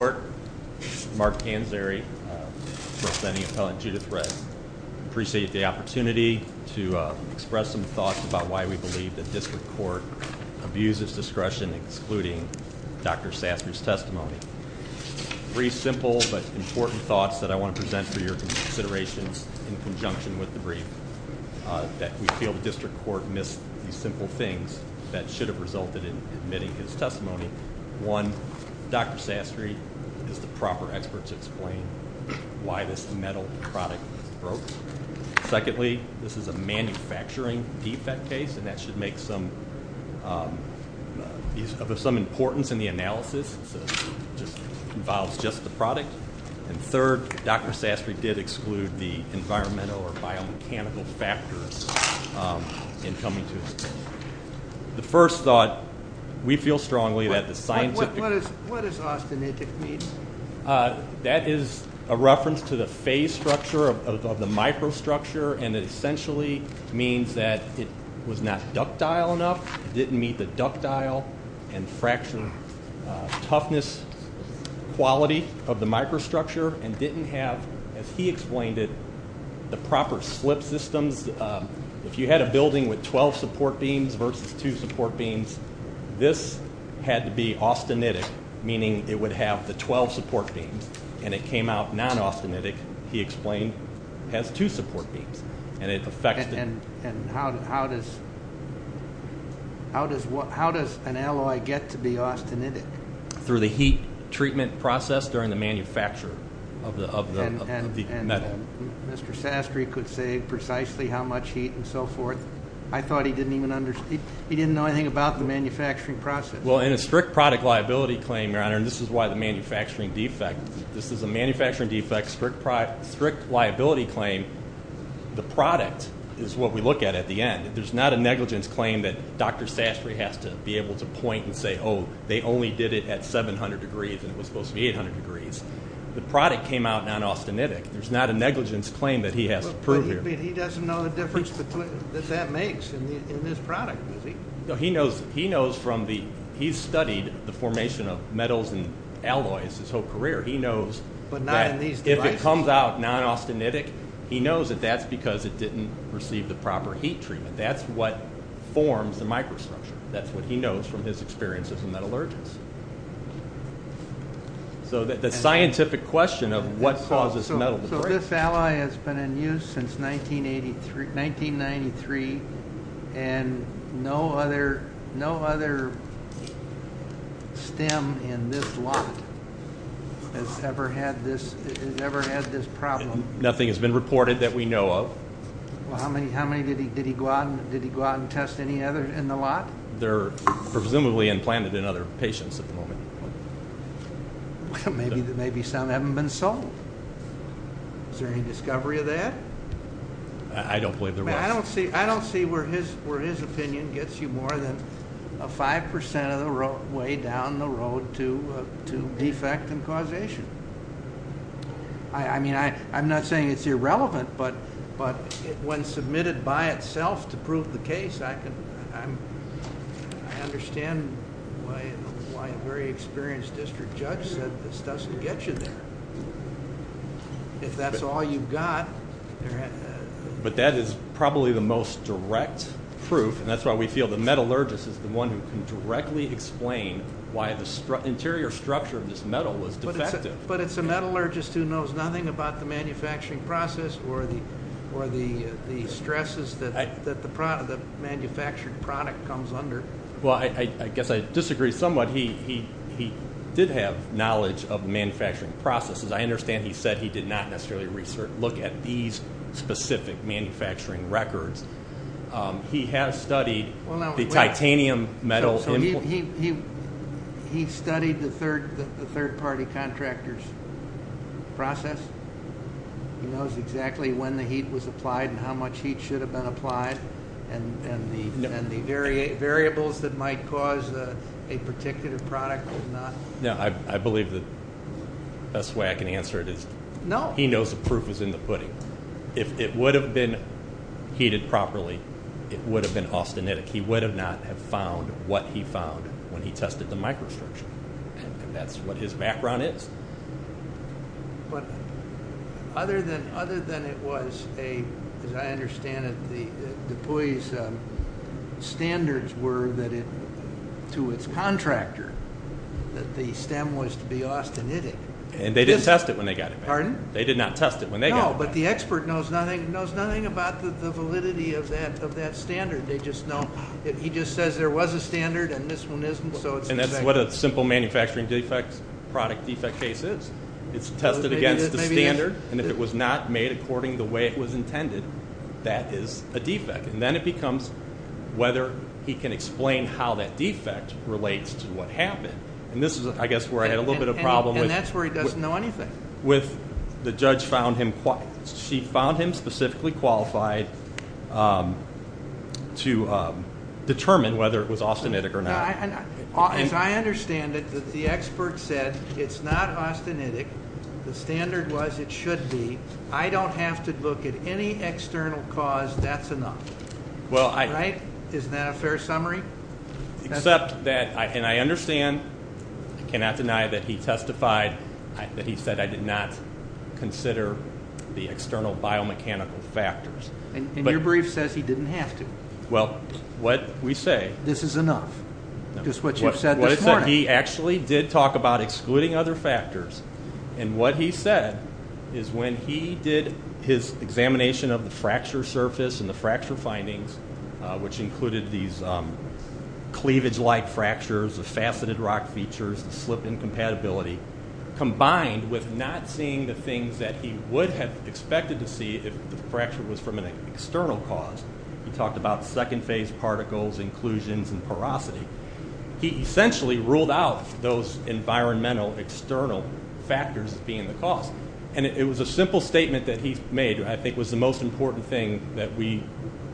District Court, Mark Panzeri, representing Appellant Judith Redd. I appreciate the opportunity to express some thoughts about why we believe the District Court abused its discretion in excluding Dr. Sastry's testimony. Three simple but important thoughts that I want to present for your considerations in conjunction with the brief, that we feel the District Court missed these simple things that should have resulted in admitting his testimony. One, Dr. Sastry is the proper expert to explain why this metal product broke. Secondly, this is a manufacturing defect case, and that should make some importance in the analysis, so it involves just the product. And third, Dr. Sastry did exclude the environmental or biomechanical factors in coming to his testimony. The first thought, we feel strongly that the scientific... What does austenitic mean? That is a reference to the phase structure of the microstructure, and it essentially means that it was not ductile enough, didn't meet the ductile and fracture toughness quality of the microstructure, and didn't have, as he explained it, the proper slip systems. If you had a building with 12 support beams versus two support beams, this had to be austenitic, meaning it would have the 12 support beams, and it came out non-austenitic, he explained, has two support beams. And it affects the... And how does an alloy get to be austenitic? Through the heat treatment process during the manufacture of the metal. Mr. Sastry could say precisely how much heat and so forth. I thought he didn't know anything about the manufacturing process. Well, in a strict product liability claim, Your Honor, and this is why the manufacturing defect, this is a manufacturing defect, strict liability claim, the product is what we look at at the end. There's not a negligence claim that Dr. Sastry has to be able to point and say, oh, they only did it at 700 degrees and it was supposed to be 800 degrees. The product came out non-austenitic. There's not a negligence claim that he has to prove here. But he doesn't know the difference that that makes in this product, does he? No, he knows from the... He's studied the formation of metals and alloys his whole career. He knows that if it comes out non-austenitic, he knows that that's because it didn't receive the proper heat treatment. That's what forms the microstructure. That's what he knows from his experience as a metallurgist. So the scientific question of what caused this metal to break. So this alloy has been in use since 1993, and no other stem in this lot has ever had this problem. Nothing has been reported that we know of. Well, how many did he go out and test, any others in the lot? They're presumably implanted in other patients at the moment. Well, maybe some haven't been sold. Is there any discovery of that? I don't believe there was. I don't see where his opinion gets you more than 5% of the way down the road to defect and causation. I mean, I'm not saying it's irrelevant, but when submitted by itself to prove the case, I understand why a very experienced district judge said this doesn't get you there. If that's all you've got. But that is probably the most direct proof, and that's why we feel the metallurgist is the one who can directly explain why the interior structure of this metal was defective. But it's a metallurgist who knows nothing about the manufacturing process or the stresses that the manufactured product comes under. Well, I guess I disagree somewhat. He did have knowledge of manufacturing processes. I understand he said he did not necessarily look at these specific manufacturing records. He has studied the titanium metal. So he studied the third-party contractor's process? He knows exactly when the heat was applied and how much heat should have been applied and the variables that might cause a particular product or not? No, I believe the best way I can answer it is he knows the proof is in the pudding. If it would have been heated properly, it would have been austenitic. He would not have found what he found when he tested the microstructure, and that's what his background is. But other than it was a, as I understand it, DuPuy's standards were to its contractor that the stem was to be austenitic. And they didn't test it when they got it back. Pardon? They did not test it when they got it back. No, but the expert knows nothing about the validity of that standard. They just know he just says there was a standard and this one isn't, so it's defective. And that's what a simple manufacturing defect, product defect case is. It's tested against the standard, and if it was not made according to the way it was intended, that is a defect. And then it becomes whether he can explain how that defect relates to what happened. And this is, I guess, where I had a little bit of a problem. And that's where he doesn't know anything. With the judge found him, she found him specifically qualified to determine whether it was austenitic or not. As I understand it, the expert said it's not austenitic. The standard was it should be. I don't have to look at any external cause. That's enough. Right? Isn't that a fair summary? Except that, and I understand, I cannot deny that he testified that he said I did not consider the external biomechanical factors. And your brief says he didn't have to. Well, what we say. This is enough. Just what you've said this morning. He actually did talk about excluding other factors. And what he said is when he did his examination of the fracture surface and the fracture findings, which included these cleavage-like fractures, the faceted rock features, the slip incompatibility, combined with not seeing the things that he would have expected to see if the fracture was from an external cause. He talked about second phase particles, inclusions, and porosity. He essentially ruled out those environmental external factors being the cause. And it was a simple statement that he made, I think, was the most important thing that we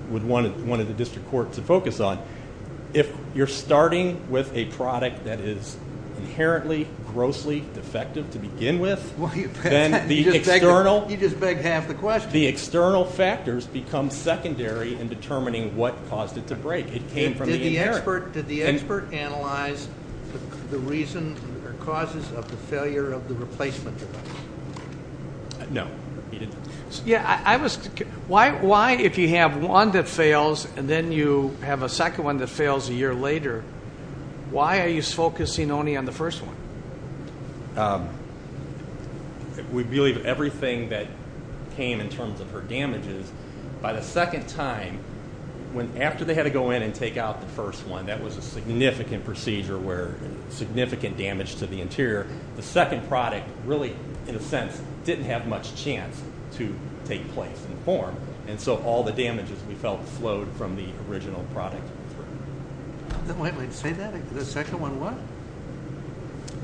would want the district court to focus on. If you're starting with a product that is inherently, grossly defective to begin with, then the external factors become secondary in determining what caused it to break. Did the expert analyze the reason or causes of the failure of the replacement device? No, he didn't. Why, if you have one that fails and then you have a second one that fails a year later, why are you focusing only on the first one? We believe everything that came in terms of her damages. By the second time, after they had to go in and take out the first one, that was a significant procedure where significant damage to the interior. The second product really, in a sense, didn't have much chance to take place in the form. And so all the damages, we felt, flowed from the original product. Wait, wait, say that again. The second one what?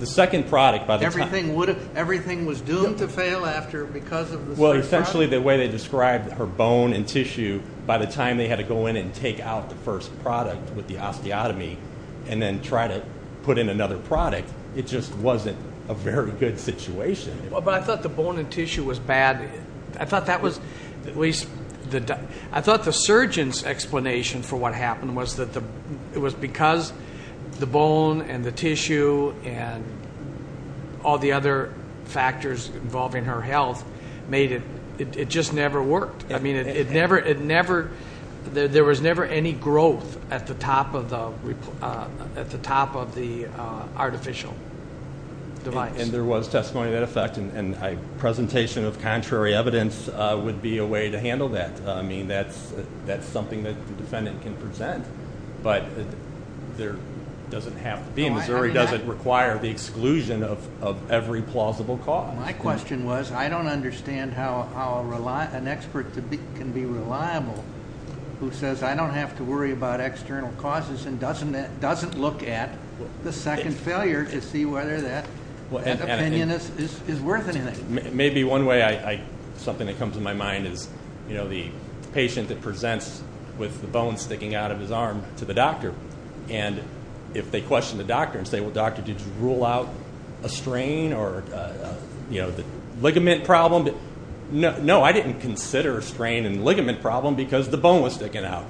The second product, by the time… Everything was doomed to fail because of the second product? Well, essentially the way they described her bone and tissue, by the time they had to go in and take out the first product with the osteotomy and then try to put in another product, it just wasn't a very good situation. But I thought the bone and tissue was bad. I thought that was, at least, I thought the surgeon's explanation for what happened was that it was because the bone and the tissue and all the other factors involving her health made it, it just never worked. I mean, it never, there was never any growth at the top of the artificial device. And there was testimony to that effect, and a presentation of contrary evidence would be a way to handle that. I mean, that's something that the defendant can present, but there doesn't have to be. Missouri doesn't require the exclusion of every plausible cause. My question was, I don't understand how an expert can be reliable who says, I don't have to worry about external causes and doesn't look at the second failure to see whether that opinion is worth anything. Maybe one way, something that comes to my mind is the patient that presents with the bone sticking out of his arm to the doctor, and if they question the doctor and say, well, doctor, did you rule out a strain or a ligament problem? No, I didn't consider a strain and ligament problem because the bone was sticking out.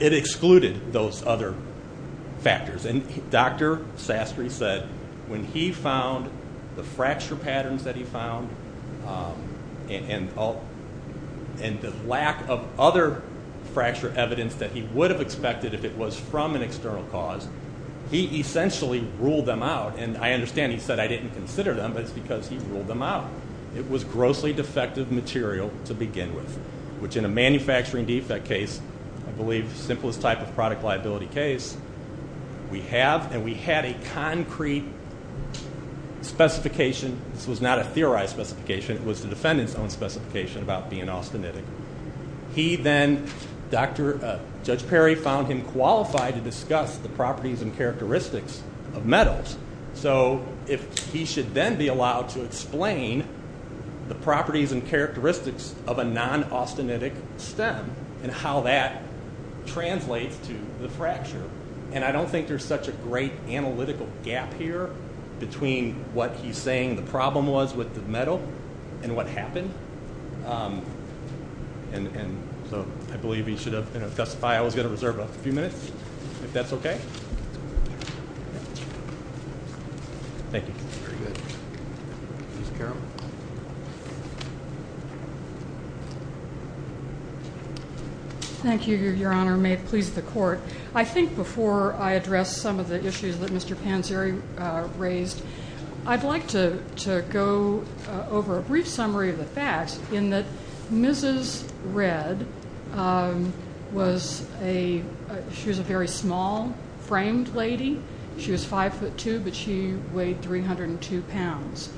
It excluded those other factors. And Dr. Sastry said when he found the fracture patterns that he found and the lack of other fracture evidence that he would have expected if it was from an external cause, he essentially ruled them out. And I understand he said I didn't consider them, but it's because he ruled them out. It was grossly defective material to begin with, which in a manufacturing defect case, I believe simplest type of product liability case, we have and we had a concrete specification. This was not a theorized specification. It was the defendant's own specification about being austinitic. He then, Judge Perry found him qualified to discuss the properties and characteristics of metals. So if he should then be allowed to explain the properties and characteristics of a non-austinitic stem and how that translates to the fracture. And I don't think there's such a great analytical gap here between what he's saying the problem was with the metal and what happened. And so I believe he should have testified. I was going to reserve a few minutes if that's okay. Thank you. Thank you, Your Honor. May it please the court. I think before I address some of the issues that Mr. Panzeri raised, I'd like to go over a brief summary of the facts in that Mrs. Red was a, she was a very small framed lady. She was 5'2", but she weighed 302 pounds.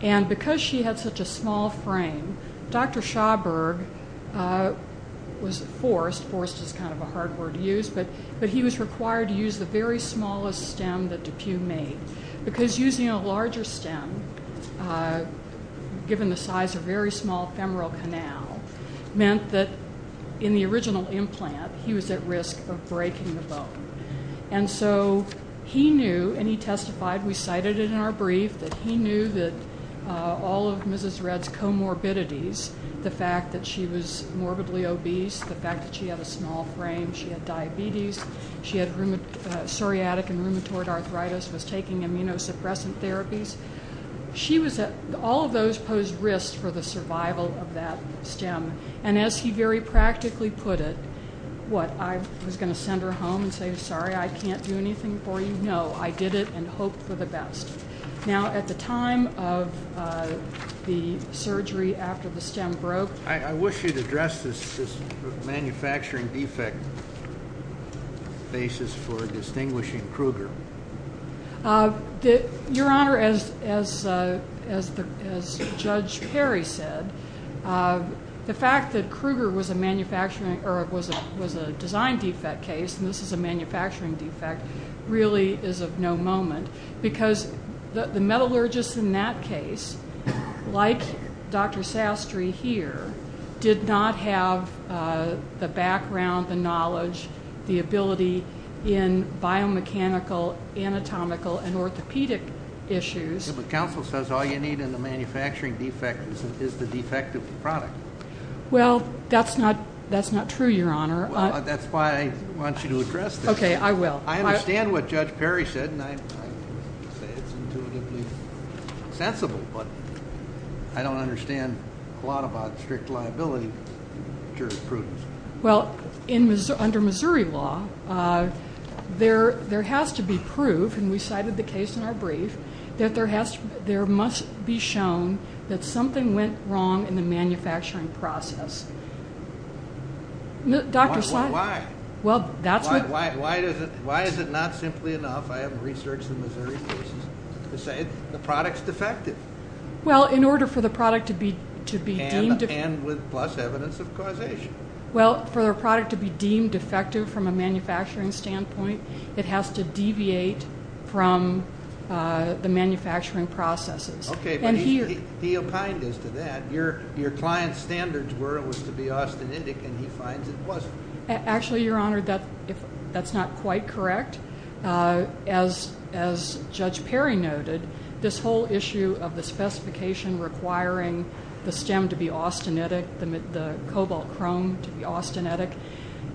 And because she had such a small frame, Dr. Schauburg was forced, forced is kind of a hard word to use, but he was required to use the very smallest stem that DePue made. Because using a larger stem, given the size of a very small femoral canal, meant that in the original implant he was at risk of breaking the bone. And so he knew, and he testified, we cited it in our brief, that he knew that all of Mrs. Red's comorbidities, the fact that she was morbidly obese, the fact that she had a small frame, she had diabetes, she had psoriatic and rheumatoid arthritis, was taking immunosuppressant therapies. She was at, all of those posed risks for the survival of that stem. And as he very practically put it, what, I was going to send her home and say, sorry, I can't do anything for you? No, I did it and hoped for the best. Now, at the time of the surgery after the stem broke. I wish you'd address this manufacturing defect basis for distinguishing Kruger. Your Honor, as Judge Perry said, the fact that Kruger was a manufacturing, or was a design defect case, and this is a manufacturing defect, really is of no moment. Because the metallurgists in that case, like Dr. Sastry here, did not have the background, the knowledge, the ability in biomechanical, anatomical, and orthopedic issues. But counsel says all you need in a manufacturing defect is the defective product. Well, that's not true, Your Honor. Well, that's why I want you to address this. Okay, I will. I understand what Judge Perry said, and I would say it's intuitively sensible, but I don't understand a lot about strict liability jury prudence. Well, under Missouri law, there has to be proof, and we cited the case in our brief, that there must be shown that something went wrong in the manufacturing process. Why? Why is it not simply enough, I haven't researched the Missouri cases, to say the product's defective? Well, in order for the product to be deemed defective. And with plus evidence of causation. Well, for the product to be deemed defective from a manufacturing standpoint, it has to deviate from the manufacturing processes. Okay, but he opined as to that. Your client's standards were it was to be austenitic, and he finds it wasn't. Actually, Your Honor, that's not quite correct. As Judge Perry noted, this whole issue of the specification requiring the stem to be austenitic, the cobalt chrome to be austenitic,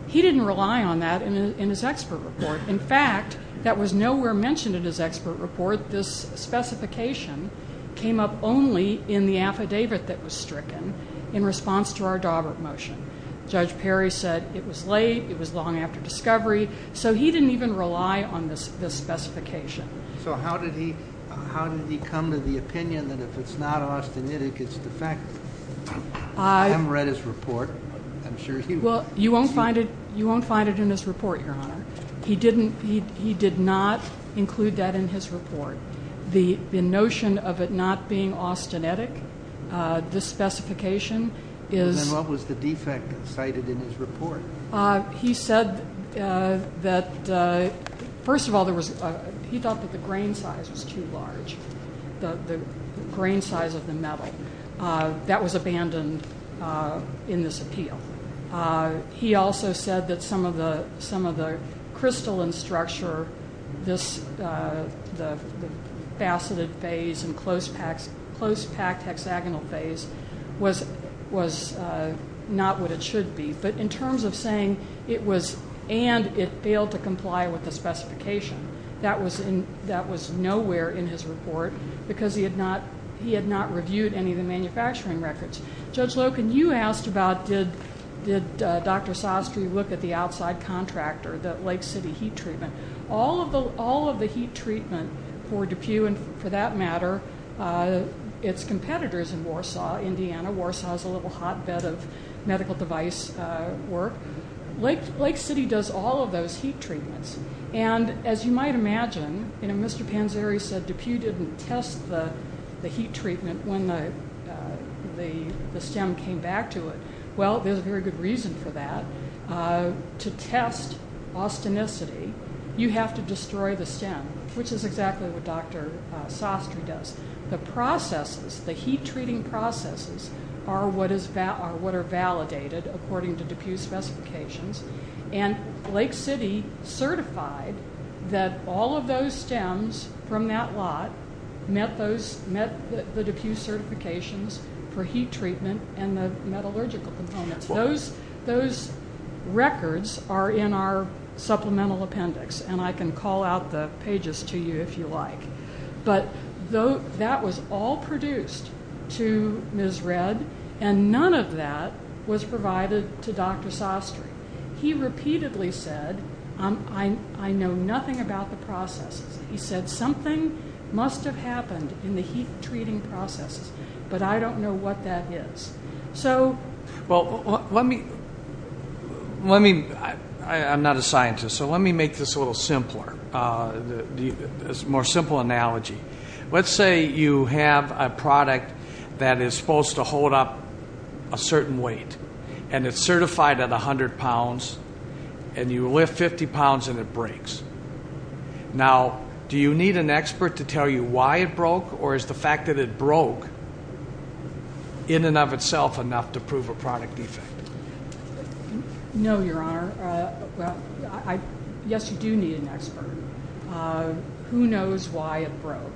he didn't rely on that in his expert report. In fact, that was nowhere mentioned in his expert report. This specification came up only in the affidavit that was stricken in response to our Daubert motion. Judge Perry said it was late, it was long after discovery, so he didn't even rely on this specification. So how did he come to the opinion that if it's not austenitic, it's defective? I haven't read his report. I'm sure he would. Well, you won't find it in his report, Your Honor. He did not include that in his report. The notion of it not being austenitic, this specification is. And what was the defect cited in his report? He said that, first of all, he thought that the grain size was too large, the grain size of the metal. That was abandoned in this appeal. He also said that some of the crystalline structure, the faceted phase and close-packed hexagonal phase, was not what it should be. But in terms of saying it was and it failed to comply with the specification, that was nowhere in his report because he had not reviewed any of the manufacturing records. Judge Loken, you asked about did Dr. Sastry look at the outside contractor, the Lake City heat treatment. All of the heat treatment for DePue and, for that matter, its competitors in Warsaw, Indiana. Warsaw is a little hotbed of medical device work. Lake City does all of those heat treatments. As you might imagine, Mr. Panzeri said DePue didn't test the heat treatment when the stem came back to it. Well, there's a very good reason for that. To test austenicity, you have to destroy the stem, which is exactly what Dr. Sastry does. The processes, the heat treating processes, are what are validated according to DePue's specifications. And Lake City certified that all of those stems from that lot met the DePue certifications for heat treatment and the metallurgical components. Those records are in our supplemental appendix, and I can call out the pages to you if you like. But that was all produced to Ms. Redd, and none of that was provided to Dr. Sastry. He repeatedly said, I know nothing about the processes. He said something must have happened in the heat treating processes, but I don't know what that is. I'm not a scientist, so let me make this a little simpler, a more simple analogy. Let's say you have a product that is supposed to hold up a certain weight, and it's certified at 100 pounds, and you lift 50 pounds and it breaks. Now, do you need an expert to tell you why it broke, or is the fact that it broke in and of itself enough to prove a product defect? No, Your Honor. Yes, you do need an expert. Who knows why it broke?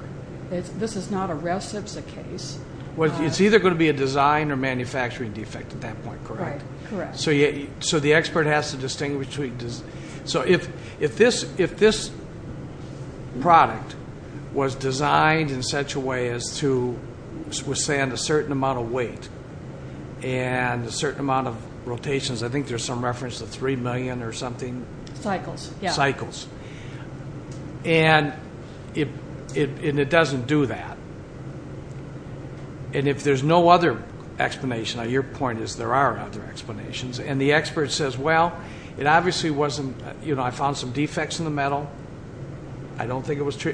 This is not a reception case. It's either going to be a design or manufacturing defect at that point, correct? Correct. So the expert has to distinguish. So if this product was designed in such a way as to withstand a certain amount of weight and a certain amount of rotations, I think there's some reference to 3 million or something. Cycles, yes. Cycles. And it doesn't do that. And if there's no other explanation, your point is there are other explanations, and the expert says, well, it obviously wasn't, you know, I found some defects in the metal. I don't think it was true.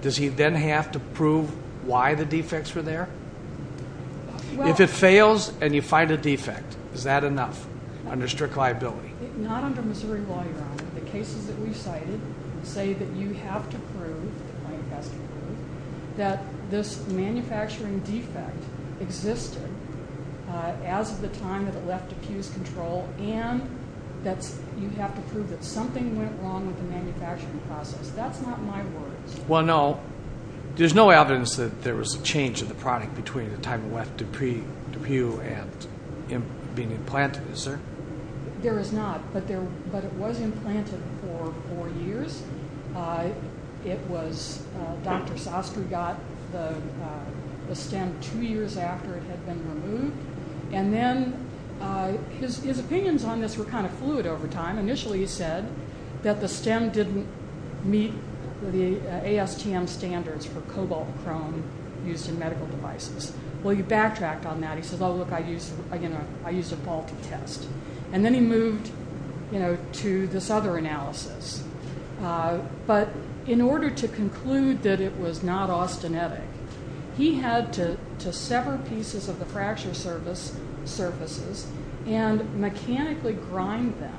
Does he then have to prove why the defects were there? If it fails and you find a defect, is that enough under strict liability? Not under Missouri Law, Your Honor. The cases that we've cited say that you have to prove, the plaintiff has to prove, that this manufacturing defect existed as of the time that it left DePuy's control and that you have to prove that something went wrong with the manufacturing process. That's not my words. Well, no. There's no evidence that there was a change in the product between the time it left DePuy and being implanted, is there? There is not, but it was implanted for four years. It was Dr. Sastry got the stem two years after it had been removed. And then his opinions on this were kind of fluid over time. Initially he said that the stem didn't meet the ASTM standards for cobalt chrome used in medical devices. Well, you backtracked on that. He says, oh, look, I used a faulty test. And then he moved to this other analysis. But in order to conclude that it was not austenitic, he had to sever pieces of the fracture surfaces and mechanically grind them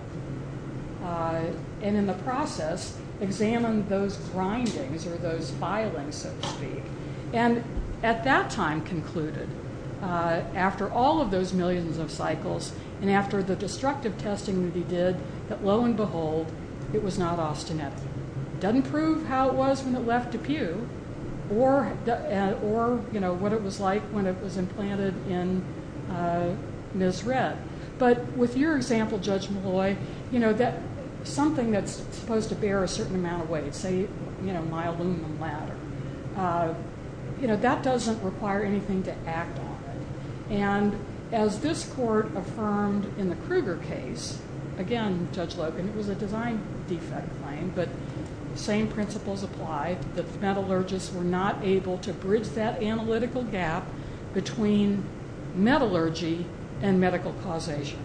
and in the process examine those grindings or those filings, so to speak. And at that time concluded, after all of those millions of cycles and after the destructive testing that he did, that lo and behold, it was not austenitic. It doesn't prove how it was when it left DePuy or what it was like when it was implanted in Ms. Red. But with your example, Judge Malloy, something that's supposed to bear a certain amount of weight, say my aluminum ladder, that doesn't require anything to act on it. And as this court affirmed in the Kruger case, again, Judge Logan, it was a design defect claim, but the same principles apply, that metallurgists were not able to bridge that analytical gap between metallurgy and medical causation.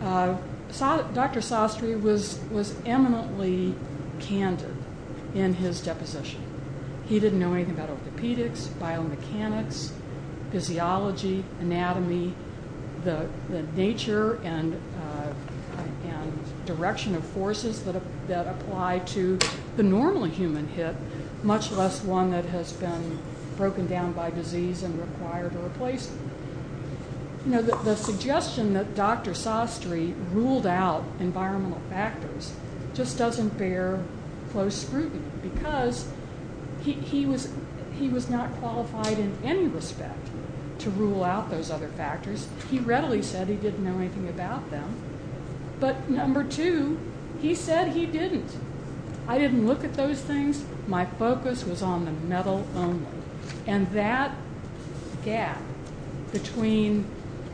Dr. Sastry was eminently candid in his deposition. He didn't know anything about orthopedics, biomechanics, physiology, anatomy, the nature and direction of forces that apply to the normal human hip, much less one that has been broken down by disease and required a replacement. The suggestion that Dr. Sastry ruled out environmental factors just doesn't bear close scrutiny because he was not qualified in any respect to rule out those other factors. He readily said he didn't know anything about them, but number two, he said he didn't. I didn't look at those things. My focus was on the metal only. And that gap between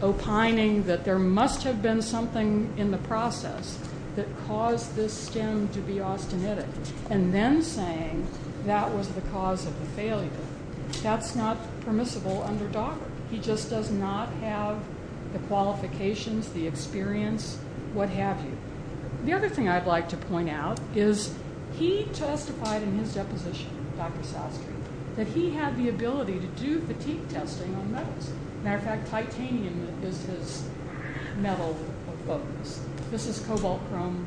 opining that there must have been something in the process that caused this stem to be austenitic and then saying that was the cause of the failure, that's not permissible under DACA. He just does not have the qualifications, the experience, what have you. The other thing I'd like to point out is he testified in his deposition, Dr. Sastry, that he had the ability to do fatigue testing on metals. Matter of fact, titanium is his metal of focus. This is cobalt chrome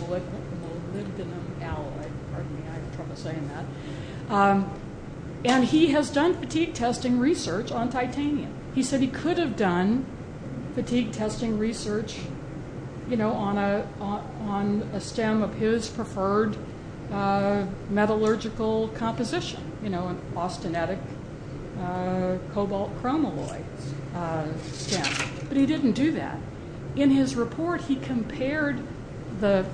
molybdenum alloy. Pardon me, I have trouble saying that. And he has done fatigue testing research on titanium. He said he could have done fatigue testing research on a stem of his preferred metallurgical composition, an austenitic cobalt chrome alloy stem, but he didn't do that. In his report, he compared the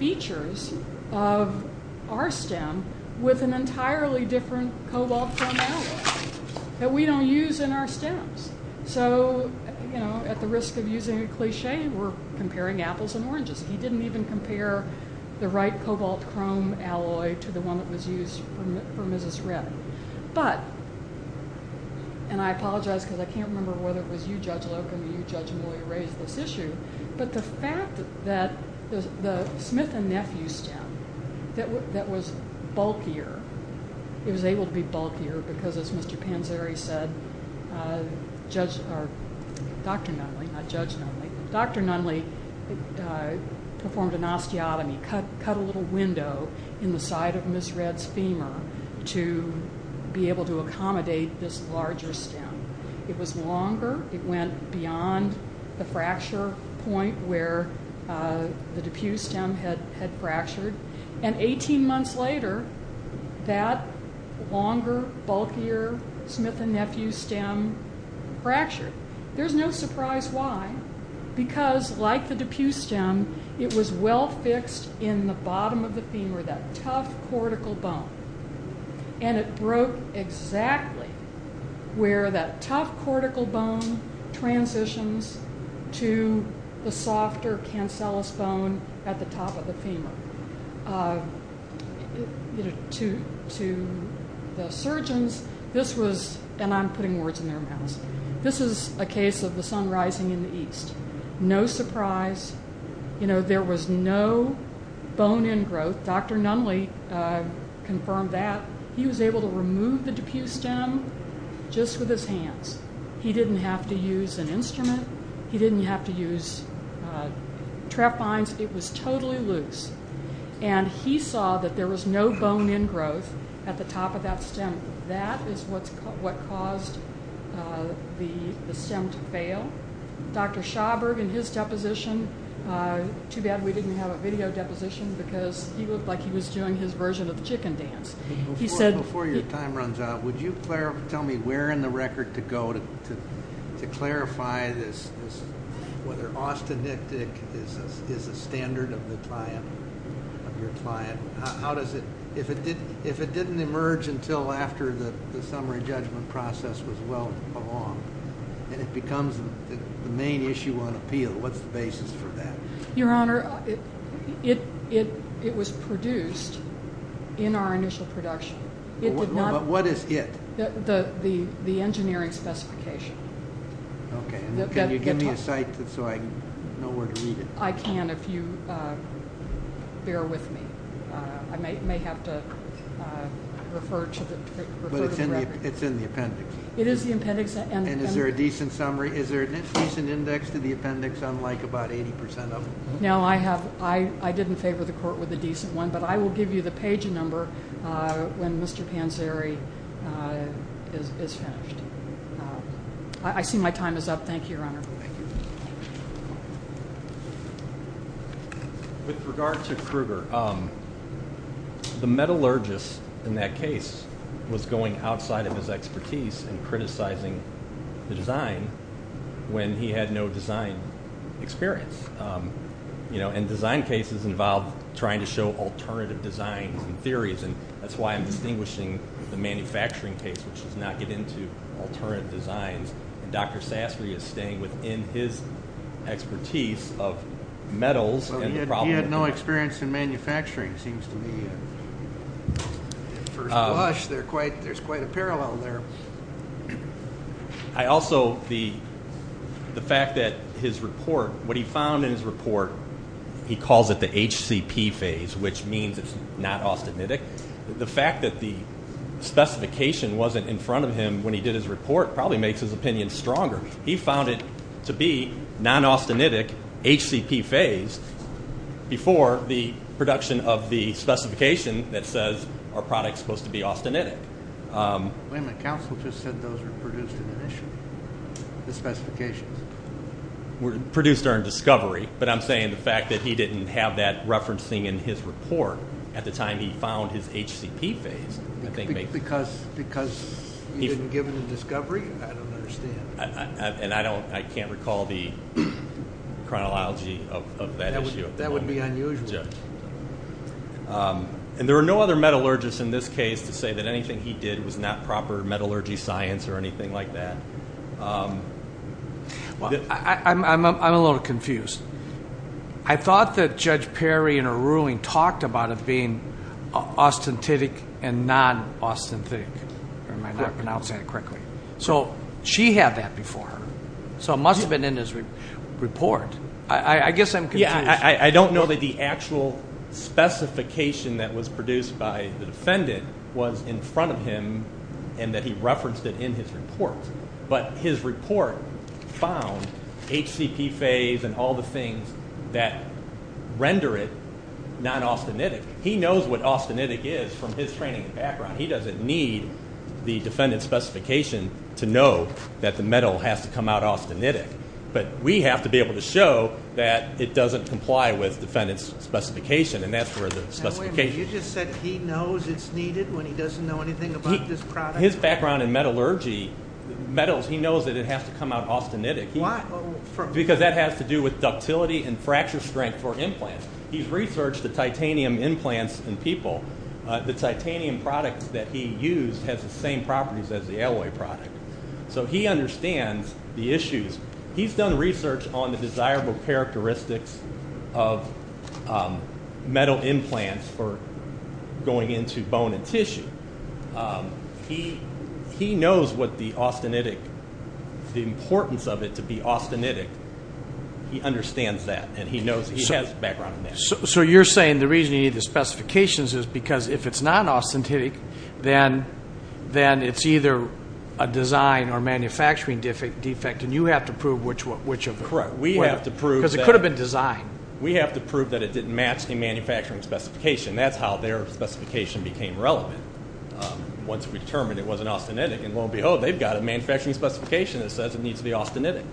features of our stem with an entirely different cobalt chrome alloy that we don't use in our stems. So, you know, at the risk of using a cliché, we're comparing apples and oranges. He didn't even compare the right cobalt chrome alloy to the one that was used for Mrs. Redding. But, and I apologize because I can't remember whether it was you, Judge Locum, or you, Judge Moy raised this issue, but the fact that the Smith & Nephew stem that was bulkier, it was able to be bulkier because, as Mr. Panzeri said, Judge, or Dr. Nunley, not Judge Nunley, Dr. Nunley performed an osteotomy, cut a little window in the side of Mrs. Redding's femur to be able to accommodate this larger stem. It was longer. It went beyond the fracture point where the Depew stem had fractured. And 18 months later, that longer, bulkier Smith & Nephew stem fractured. There's no surprise why. Because, like the Depew stem, it was well-fixed in the bottom of the femur, that tough cortical bone. And it broke exactly where that tough cortical bone transitions to the softer cancellous bone at the top of the femur. To the surgeons, this was, and I'm putting words in their mouths, this is a case of the sun rising in the east. No surprise. You know, there was no bone in growth. So Dr. Nunley confirmed that. He was able to remove the Depew stem just with his hands. He didn't have to use an instrument. He didn't have to use trap binds. It was totally loose. And he saw that there was no bone in growth at the top of that stem. That is what caused the stem to fail. Dr. Schauburg, in his deposition, too bad we didn't have a video deposition, because he looked like he was doing his version of the chicken dance. Before your time runs out, would you tell me where in the record to go to clarify this, whether austenitic is a standard of the client, of your client? How does it, if it didn't emerge until after the summary judgment process was well along, and it becomes the main issue on appeal, what's the basis for that? Your Honor, it was produced in our initial production. But what is it? The engineering specification. Can you give me a site so I know where to read it? I can if you bear with me. I may have to refer to the record. But it's in the appendix. It is the appendix. And is there a decent summary? Is there a decent index to the appendix, unlike about 80% of them? No, I didn't favor the court with a decent one, but I will give you the page number when Mr. Panzeri is finished. I see my time is up. Thank you, Your Honor. With regard to Kruger, the metallurgist in that case was going outside of his expertise and criticizing the design when he had no design experience. And design cases involve trying to show alternative designs and theories, and that's why I'm distinguishing the manufacturing case, which does not get into alternative designs. Dr. Sastry is staying within his expertise of metals. He had no experience in manufacturing, it seems to me. There's quite a parallel there. I also, the fact that his report, what he found in his report, he calls it the HCP phase, which means it's not austenitic. The fact that the specification wasn't in front of him when he did his report probably makes his opinion stronger. He found it to be non-austenitic, HCP phase, before the production of the specification that says, are products supposed to be austenitic? My counsel just said those were produced in an issue, the specifications. Produced during discovery, but I'm saying the fact that he didn't have that referencing in his report at the time he found his HCP phase. Because he didn't give it in discovery? I don't understand. I can't recall the chronology of that issue. That would be unusual. There are no other metallurgists in this case to say that anything he did was not proper metallurgy science or anything like that. I'm a little confused. I thought that Judge Perry in her ruling talked about it being austenitic and non-austenitic, or am I not pronouncing it correctly? She had that before her, so it must have been in his report. I guess I'm confused. I don't know that the actual specification that was produced by the defendant was in front of him and that he referenced it in his report, but his report found HCP phase and all the things that render it non-austenitic. He knows what austenitic is from his training and background. He doesn't need the defendant's specification to know that the metal has to come out austenitic. But we have to be able to show that it doesn't comply with the defendant's specification, and that's where the specification is. You just said he knows it's needed when he doesn't know anything about this product? His background in metallurgy, metals, he knows that it has to come out austenitic. Why? Because that has to do with ductility and fracture strength for implants. He's researched the titanium implants in people. The titanium product that he used has the same properties as the alloy product. So he understands the issues. He's done research on the desirable characteristics of metal implants for going into bone and tissue. He knows what the austenitic, the importance of it to be austenitic. He understands that, and he knows he has background in that. So you're saying the reason you need the specifications is because if it's not austenitic, then it's either a design or manufacturing defect, and you have to prove which of them. Correct. Because it could have been design. We have to prove that it didn't match the manufacturing specification. That's how their specification became relevant. Once we determined it wasn't austenitic, and lo and behold, they've got a manufacturing specification that says it needs to be austenitic.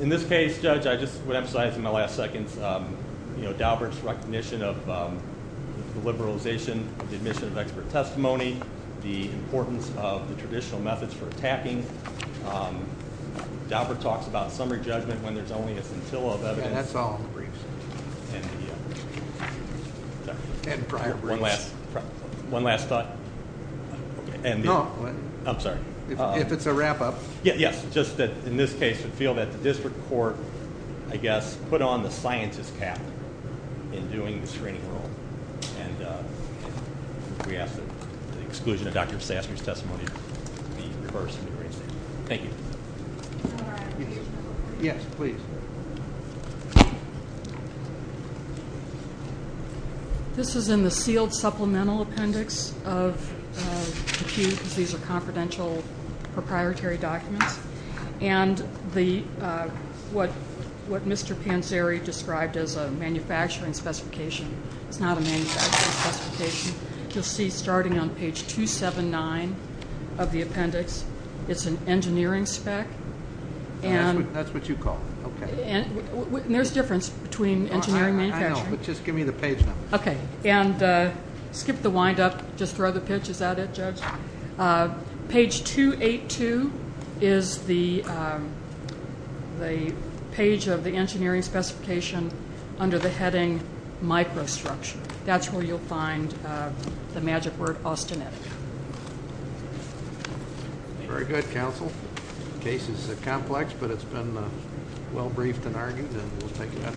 In this case, Judge, I just would emphasize in the last seconds, you know, Daubert's recognition of the liberalization of the admission of expert testimony, the importance of the traditional methods for attacking. Daubert talks about summary judgment when there's only a scintilla of evidence. That's all in the briefs. And prior briefs. One last thought. No. I'm sorry. If it's a wrap-up. Yes, just that in this case we feel that the district court, I guess, put on the scientist cap in doing the screening role. And we ask that the exclusion of Dr. Sassner's testimony be reversed. Thank you. Yes, please. This is in the sealed supplemental appendix of the few, because these are confidential proprietary documents. And what Mr. Panzeri described as a manufacturing specification, it's not a manufacturing specification. You'll see starting on page 279 of the appendix, it's an engineering spec. That's what you call it. Okay. And there's a difference between engineering and manufacturing. I know, but just give me the page number. Okay. And skip the wind-up. Just throw the pitch. Is that it, Judge? Page 282 is the page of the engineering specification under the heading microstructure. That's where you'll find the magic word, austenitic. Very good, counsel. The case is complex, but it's been well briefed and argued.